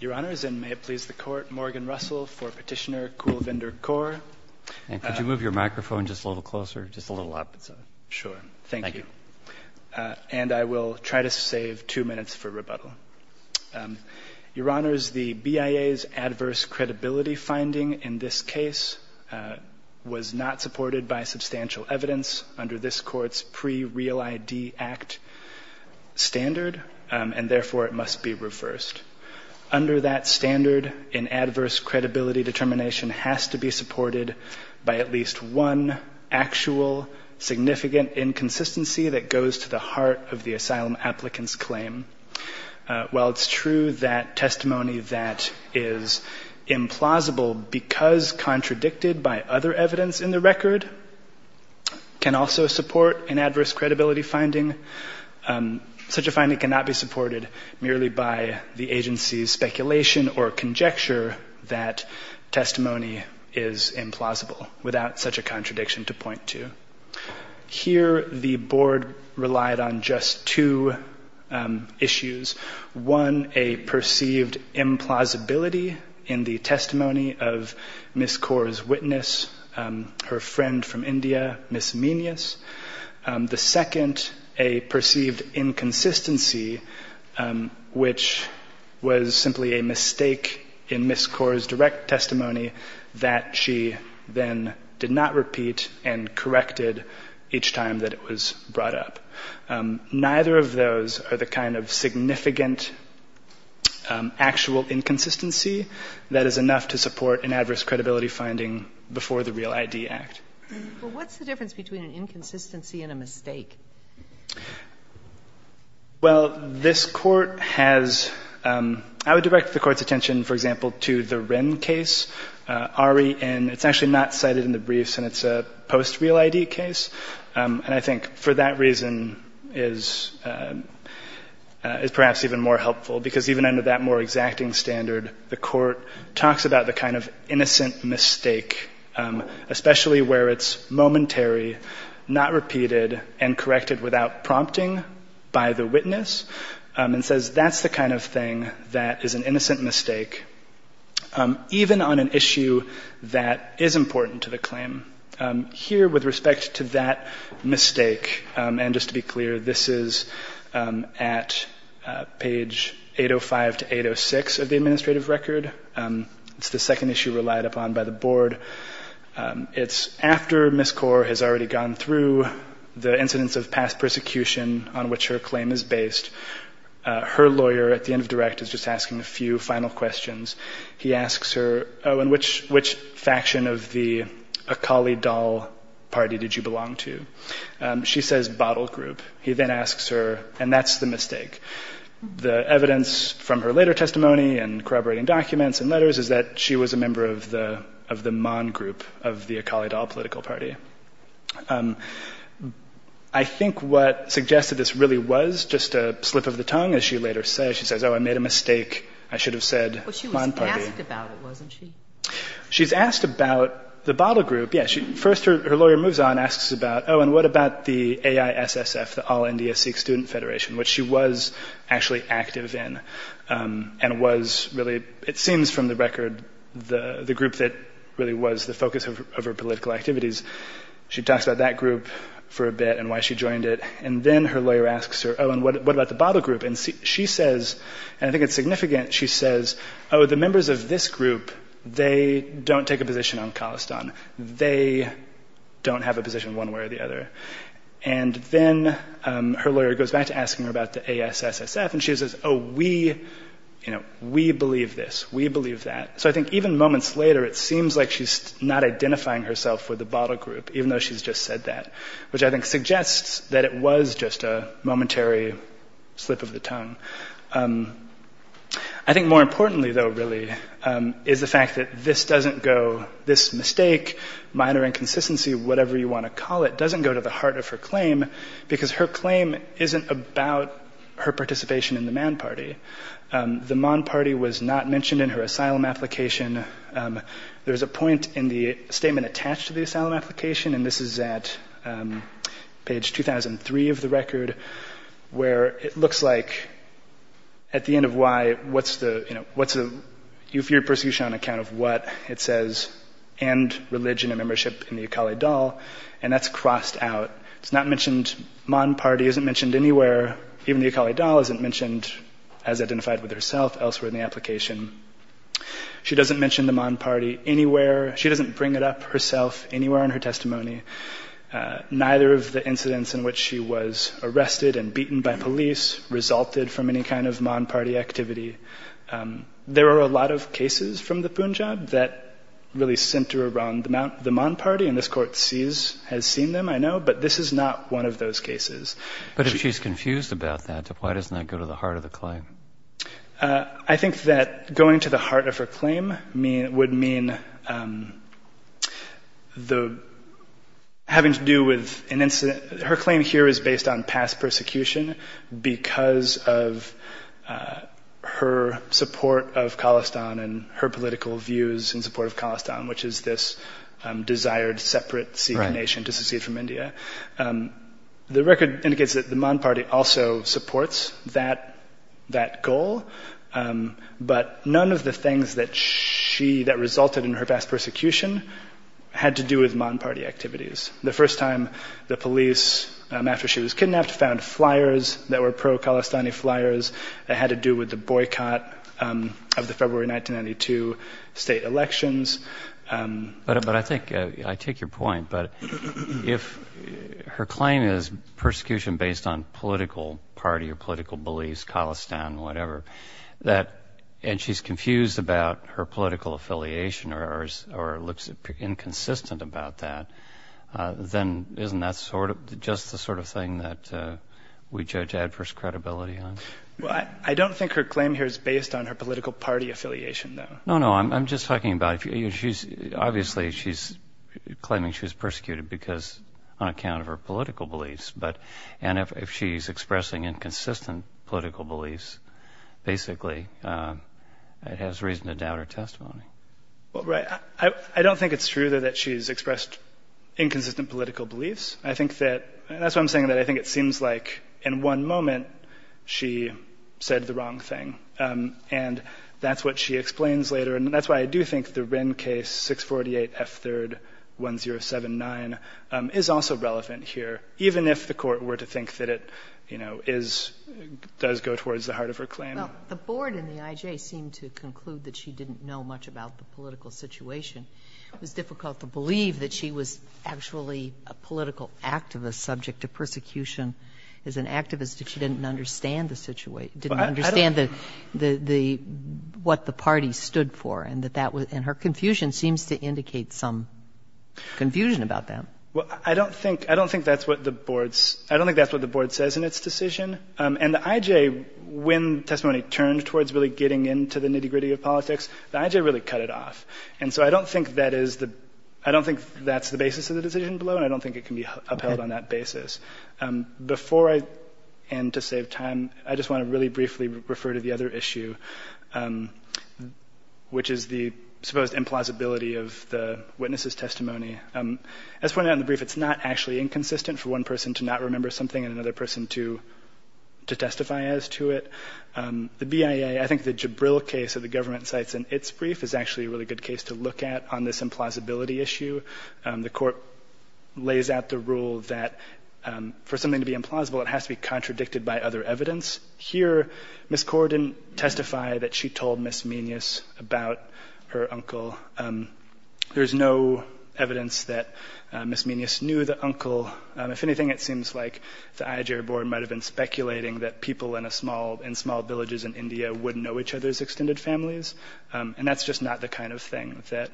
Your Honors, and may it please the Court, Morgan Russell for Petitioner Kulvinder Kaur. And could you move your microphone just a little closer, just a little up? Sure, thank you. And I will try to save two minutes for rebuttal. Your Honors, the BIA's adverse credibility finding in this case was not supported by substantial evidence under this Court's Pre-Real ID Act standard, and therefore it must be reversed. Under that standard, an adverse credibility determination has to be supported by at least one actual, significant inconsistency that goes to the heart of the asylum applicant's claim. While it's true that testimony that is implausible because contradicted by other evidence in the record can also support an adverse credibility finding, such a finding cannot be supported merely by the agency's speculation or conjecture that testimony is implausible without such a contradiction to point to. Here, the Board relied on just two issues. One, a perceived implausibility in the testimony of Ms. Kaur's witness, her friend from India, Ms. Meneas. The second, a perceived inconsistency, which was simply a mistake in Ms. Kaur's direct testimony that she then did not repeat and corrected each time that it was brought up. Neither of those are the kind of significant, actual inconsistency that is enough to support an adverse credibility finding before the Real ID Act. Well, what's the difference between an inconsistency and a mistake? Well, this court has, I would direct the court's attention, for example, to the Wren case, Ari, and it's actually not cited in the briefs and it's a post-Real ID case. And I think for that reason is perhaps even more helpful because even under that more exacting standard, the court talks about the kind of innocent mistake, especially where it's momentary, not repeated, and corrected without prompting by the witness, and says that's the kind of thing that is an innocent mistake, even on an issue that is important to the claim. Here, with respect to that mistake, and just to be clear, this is at page 805 to 806 of the administrative record. It's the second issue relied upon by the board. It's after Ms. Kaur has already gone through the incidents of past persecution on which her claim is based. Her lawyer, at the end of direct, is just asking a few final questions. He asks her, oh, in which faction of the Akali Dal party did you belong to? She says, bottle group. He then asks her, and that's the mistake. The evidence from her later testimony and corroborating documents and letters is that she was a member of the Mon group of the Akali Dal political party. I think what suggested this really was just a slip of the tongue, as she later says, she says, oh, I made a mistake. I should have said Mon party. But she was asked about it, wasn't she? She's asked about the bottle group, yes. First, her lawyer moves on, asks about, oh, and what about the AISSF, the All India Sikh Student Federation, which she was actually active in, and was really, it seems from the record, the group that really was the focus of her political activities. She talks about that group for a bit and why she joined it. And then her lawyer asks her, oh, and what about the bottle group? And she says, and I think it's significant, she says, oh, the members of this group, they don't take a position on Khalistan. They don't have a position one way or the other. And then her lawyer goes back to asking her about the AISSF, and she says, oh, we believe this. We believe that. So I think even moments later, it seems like she's not identifying herself with the bottle group, even though she's just said that, which I think suggests that it was just a momentary slip of the tongue. I think more importantly, though, really, is the fact that this doesn't go, whatever you wanna call it, doesn't go to the heart of her claim because her claim isn't about her participation in the Mann Party. The Mann Party was not mentioned in her asylum application. There's a point in the statement attached to the asylum application, and this is at page 2003 of the record, where it looks like, at the end of why, what's the, you know, what's the eupheria persecution on account of what? It says, and religion and membership in the Akali Dal, and that's crossed out. It's not mentioned, Mann Party isn't mentioned anywhere. Even the Akali Dal isn't mentioned as identified with herself elsewhere in the application. She doesn't mention the Mann Party anywhere. She doesn't bring it up herself anywhere in her testimony. Neither of the incidents in which she was arrested and beaten by police resulted from any kind of Mann Party activity. There are a lot of cases from the Punjab that really center around the Mann Party, and this court sees, has seen them, I know, but this is not one of those cases. But if she's confused about that, why doesn't that go to the heart of the claim? I think that going to the heart of her claim would mean having to do with an incident. Her claim here is based on past persecution because of her support of Khalistan and her political views in support of Khalistan, which is this desired separate Sikh nation to secede from India. The record indicates that the Mann Party also supports that goal, but none of the things that resulted in her past persecution had to do with Mann Party activities. The first time the police, after she was kidnapped, found flyers that were pro-Khalistani flyers that had to do with the boycott of the February 1992 state elections. But I think, I take your point, but if her claim is persecution based on political party or political beliefs, Khalistan, whatever, and she's confused about her political affiliation or looks inconsistent about that, then isn't that just the sort of thing that we judge adverse credibility on? Well, I don't think her claim here is based on her political party affiliation, though. No, no, I'm just talking about, obviously, she's claiming she was persecuted because on account of her political beliefs, and if she's expressing inconsistent political beliefs, basically, it has reason to doubt her testimony. Well, right, I don't think it's true, though, that she's expressed inconsistent political beliefs. I think that, and that's why I'm saying that I think it seems like, in one moment, she said the wrong thing, and that's what she explains later, and that's why I do think the Wren case, 648 F3rd 1079, is also relevant here, even if the court were to think that it does go towards the heart of her claim. The board and the IJ seem to conclude that she didn't know much about the political situation. It was difficult to believe that she was actually a political activist subject to persecution as an activist if she didn't understand the situation, and her confusion seems to indicate some confusion about that. Well, I don't think that's what the board says in its decision, and the IJ, when testimony turned towards really getting into the nitty-gritty of politics, the IJ really cut it off, and so I don't think that's the basis of the decision below, and I don't think it can be upheld on that basis. Before I end to save time, I just want to really briefly refer to the other issue. Which is the supposed implausibility of the witness's testimony. As pointed out in the brief, it's not actually inconsistent for one person to not remember something and another person to testify as to it. The BIA, I think the Jabril case that the government cites in its brief is actually a really good case to look at on this implausibility issue. The court lays out the rule that for something to be implausible, it has to be contradicted by other evidence. Here, Ms. Kaur didn't testify that she told Ms. Meneus about her uncle. There's no evidence that Ms. Meneus knew the uncle. If anything, it seems like the IJ board might have been speculating that people in small villages in India would know each other's extended families, and that's just not the kind of thing that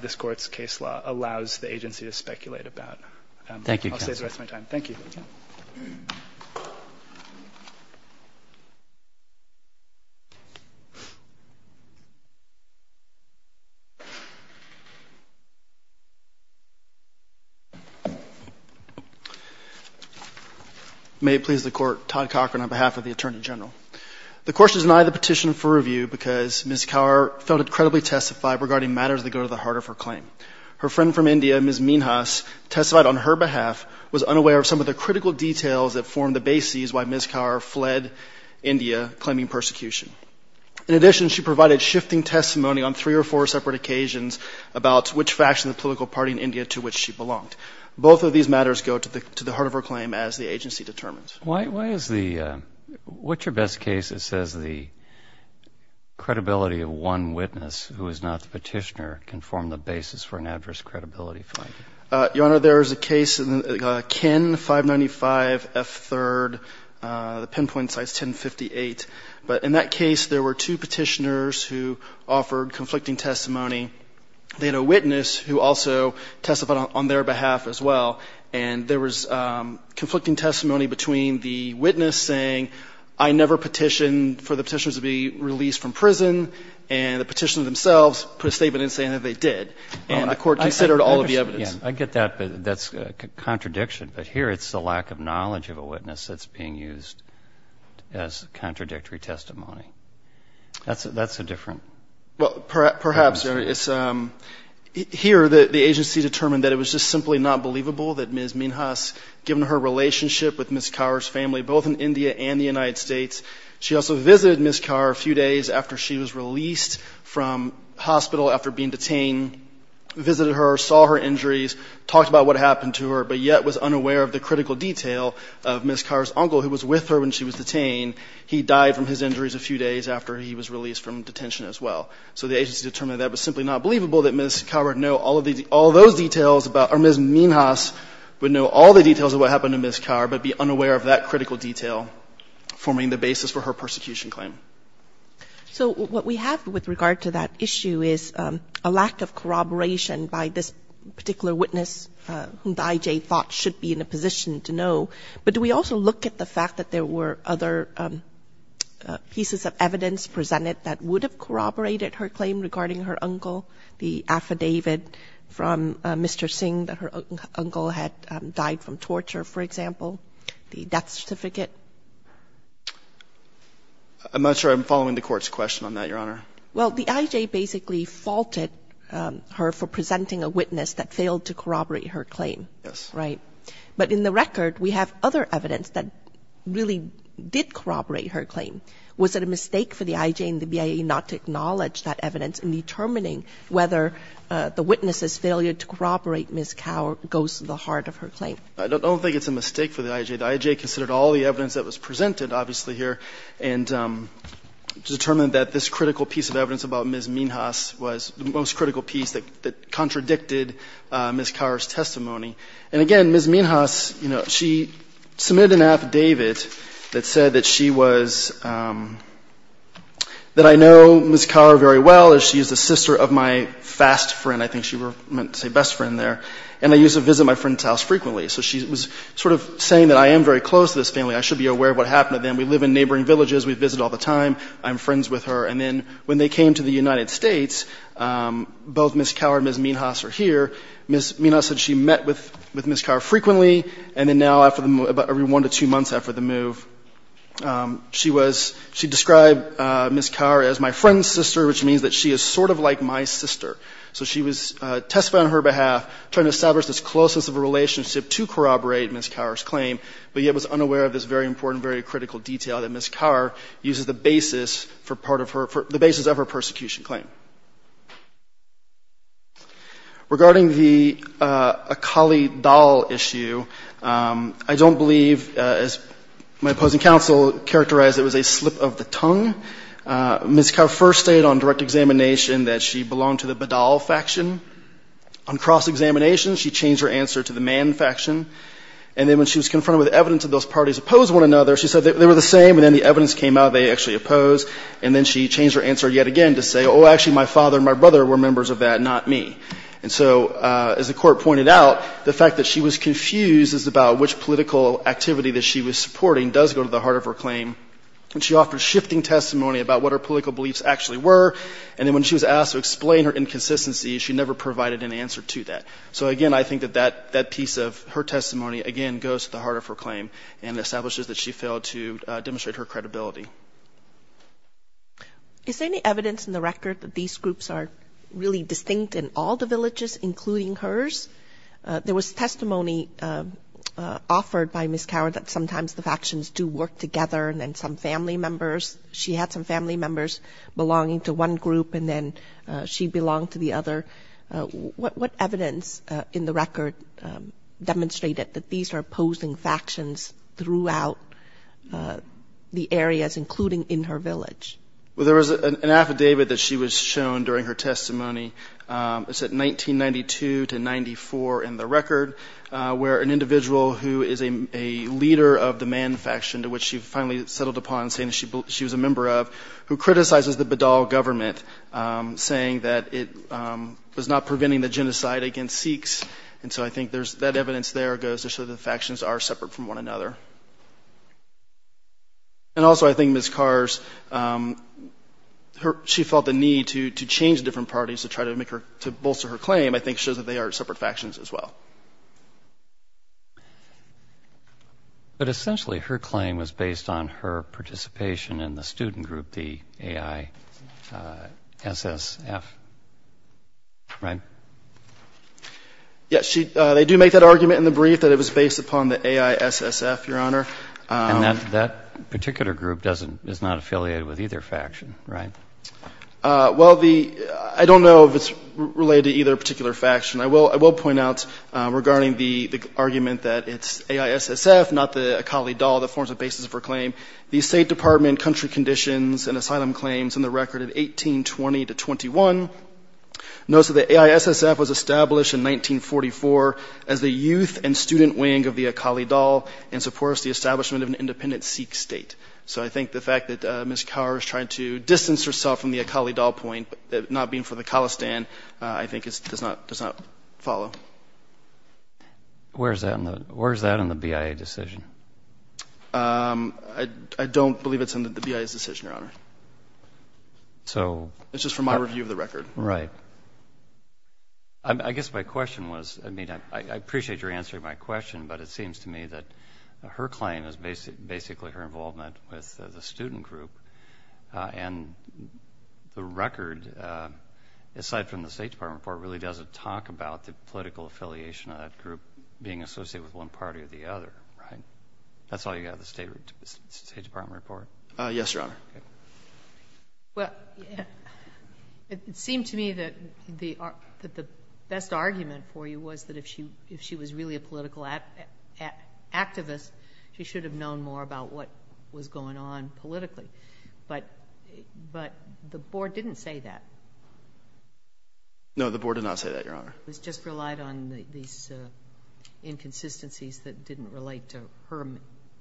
this court's case law allows the agency to speculate about. I'll save the rest of my time. Thank you. Thank you. May it please the court, Todd Cochran on behalf of the Attorney General. The court should deny the petition for review because Ms. Kaur felt it credibly testified regarding matters that go to the heart of her claim. Her friend from India, Ms. Meneus, testified on her behalf, was unaware of some of the critical details that formed the basis why Ms. Kaur fled India, claiming persecution. In addition, she provided shifting testimony on three or four separate occasions about which faction of the political party in India to which she belonged. Both of these matters go to the heart of her claim as the agency determines. Why is the, what's your best case that says the credibility of one witness who is not the petitioner can form the basis for an adverse credibility finding? Your Honor, there is a case, Ken 595 F3rd, the pinpoint site's 1058. But in that case, there were two petitioners who offered conflicting testimony. They had a witness who also testified on their behalf as well. And there was conflicting testimony between the witness saying, I never petitioned for the petitioners to be released from prison. And the petitioner themselves put a statement in saying that they did. And the court considered all of the evidence. I get that, but that's a contradiction. But here it's the lack of knowledge of a witness that's being used as contradictory testimony. That's a different. Well, perhaps it's here that the agency determined that it was just simply not believable that Ms. Minhas given her relationship with Ms. Kaur's family, both in India and the United States. She also visited Ms. Kaur a few days after she was released from hospital after being detained, visited her, saw her injuries, talked about what happened to her, but yet was unaware of the critical detail of Ms. Kaur's uncle who was with her when she was detained. He died from his injuries a few days after he was released from detention as well. So the agency determined that was simply not believable that Ms. Kaur would know all of those details about, or Ms. Minhas would know all the details of what happened to Ms. Kaur, but be unaware of that critical detail forming the basis for her persecution claim. So what we have with regard to that issue is a lack of corroboration by this particular witness whom the IJ thought should be in a position to know. But do we also look at the fact that there were other pieces of evidence presented that would have corroborated her claim regarding her uncle, the affidavit from Mr. Singh that her uncle had died from torture, for example, the death certificate? I'm not sure I'm following the court's question on that, Your Honor. Well, the IJ basically faulted her for presenting a witness that failed to corroborate her claim, right? But in the record, we have other evidence that really did corroborate her claim. Was it a mistake for the IJ and the BIA not to acknowledge that evidence in determining whether the witness's failure to corroborate Ms. Kaur goes to the heart of her claim? I don't think it's a mistake for the IJ. The IJ considered all the evidence that was presented obviously here and determined that this critical piece of evidence about Ms. Minhas was the most critical piece that contradicted Ms. Kaur's testimony. And again, Ms. Minhas, she submitted an affidavit that said that she was, that I know Ms. Kaur very well as she is the sister of my fast friend, I think she meant to say best friend there, and I used to visit my friend's house frequently. So she was sort of saying that I am very close to this family. I should be aware of what happened to them. We live in neighboring villages. We visit all the time. I'm friends with her. And then when they came to the United States, both Ms. Kaur and Ms. Minhas are here. Ms. Minhas said she met with Ms. Kaur frequently. And then now after the, about every one to two months after the move, she was, she described Ms. Kaur as my friend's sister, which means that she is sort of like my sister. So she was testifying on her behalf, trying to establish this closeness of a relationship to corroborate Ms. Kaur's claim, but yet was unaware of this very important, very critical detail that Ms. Kaur uses the basis for part of her, the basis of her persecution claim. Regarding the Akali Dal issue, I don't believe, as my opposing counsel characterized, it was a slip of the tongue. Ms. Kaur first stated on direct examination that she belonged to the Badal faction. On cross-examination, she changed her answer to the Man faction. And then when she was confronted with evidence of those parties opposed one another, she said that they were the same. And then the evidence came out, they actually oppose. And then she changed her answer yet again to say, oh, actually my father and my brother were members of that, not me. And so as the court pointed out, the fact that she was confused is about which political activity that she was supporting does go to the heart of her claim. And she offered shifting testimony about what her political beliefs actually were. And then when she was asked to explain her inconsistency, she never provided an answer to that. So again, I think that that piece of her testimony, again, goes to the heart of her claim and establishes that she failed to demonstrate her credibility. Is there any evidence in the record that these groups are really distinct in all the villages, including hers? There was testimony offered by Ms. Coward that sometimes the factions do work together and then some family members, she had some family members belonging to one group and then she belonged to the other. that these are opposing factions throughout the areas in which they are? including in her village? Well, there was an affidavit that she was shown during her testimony. It's at 1992 to 94 in the record, where an individual who is a leader of the man faction to which she finally settled upon saying she was a member of, who criticizes the Badal government saying that it was not preventing the genocide against Sikhs. And so I think that evidence there goes to show the factions are separate from one another. And also I think Ms. Carr's, she felt the need to change different parties to try to make her, to bolster her claim, I think shows that they are separate factions as well. But essentially her claim was based on her participation in the student group, the AI SSF, right? Yes, they do make that argument in the brief that it was based upon the AI SSF, Your Honor. And that particular group is not affiliated with either faction, right? Well, I don't know if it's related to either particular faction. I will point out regarding the argument that it's AI SSF, not the Akali Dal, that forms the basis of her claim. The State Department country conditions and asylum claims in the record of 1820 to 21, notes that the AI SSF was established in 1944 as the youth and student wing of the Akali Dal and supports the establishment of an independent Sikh state. So I think the fact that Ms. Carr is trying to distance herself from the Akali Dal point, not being for the Khalistan, I think it does not follow. Where's that in the BIA decision? I don't believe it's in the BIA's decision, Your Honor. It's just from my review of the record. Right. I guess my question was, I mean, I appreciate your answer to my question, but it seems to me that her claim is basically her involvement with the student group. And the record, aside from the State Department report, really doesn't talk about the political affiliation of that group being associated with one party or the other, right? That's all you got of the State Department report? Yes, Your Honor. Well, it seemed to me that the best argument for you was that if she was really a political activist, she should have known more about what was going on politically. But the board didn't say that. No, the board did not say that, Your Honor. It was just relied on these inconsistencies that didn't relate to her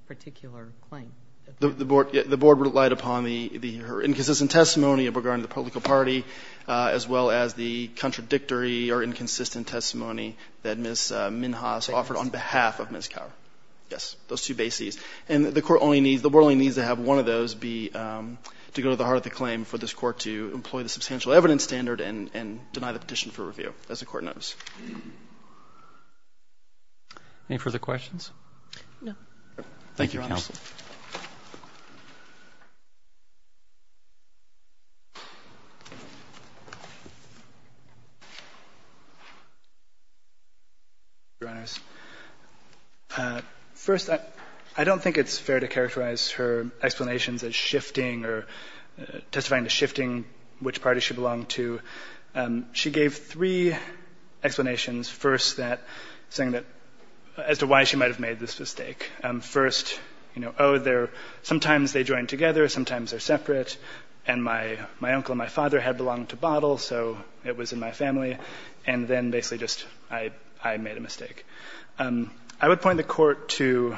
particular claim. The board relied upon her inconsistent testimony of regarding the political party, as well as the contradictory or inconsistent testimony that Ms. Minhas offered on behalf of Ms. Kaur. Yes, those two bases. And the board only needs to have one of those to go to the heart of the claim for this court to employ the substantial evidence standard and deny the petition for review, as the court knows. Any further questions? No. Thank you, counsel. Thank you. First, I don't think it's fair to characterize her explanations as shifting or testifying to shifting which party she belonged to. She gave three explanations. First, that saying that, as to why she might have made this mistake. First, you know, oh, they're, sometimes they join together, sometimes they're separate. And my uncle and my father had belonged to Bottle, so it was in my family. And then basically just, I made a mistake. I would point the court to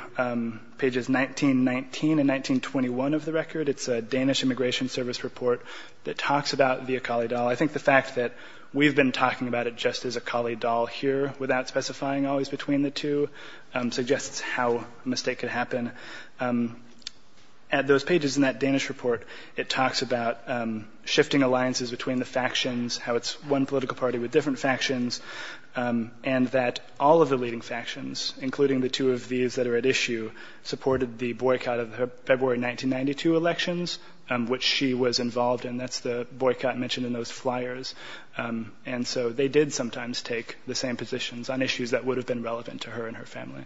pages 1919 and 1921 of the record. It's a Danish Immigration Service report that talks about the Akali Dahl. I think the fact that we've been talking about it just as Akali Dahl here, without specifying always between the two, suggests how a mistake could happen. At those pages in that Danish report, it talks about shifting alliances between the factions, how it's one political party with different factions, and that all of the leading factions, including the two of these that are at issue, supported the boycott of her February 1992 elections, which she was involved in. That's the boycott mentioned in those flyers. And so they did sometimes take the same positions on issues that would have been relevant to her and her family.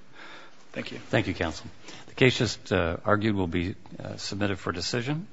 Thank you. Thank you, counsel. The case just argued will be submitted for decision.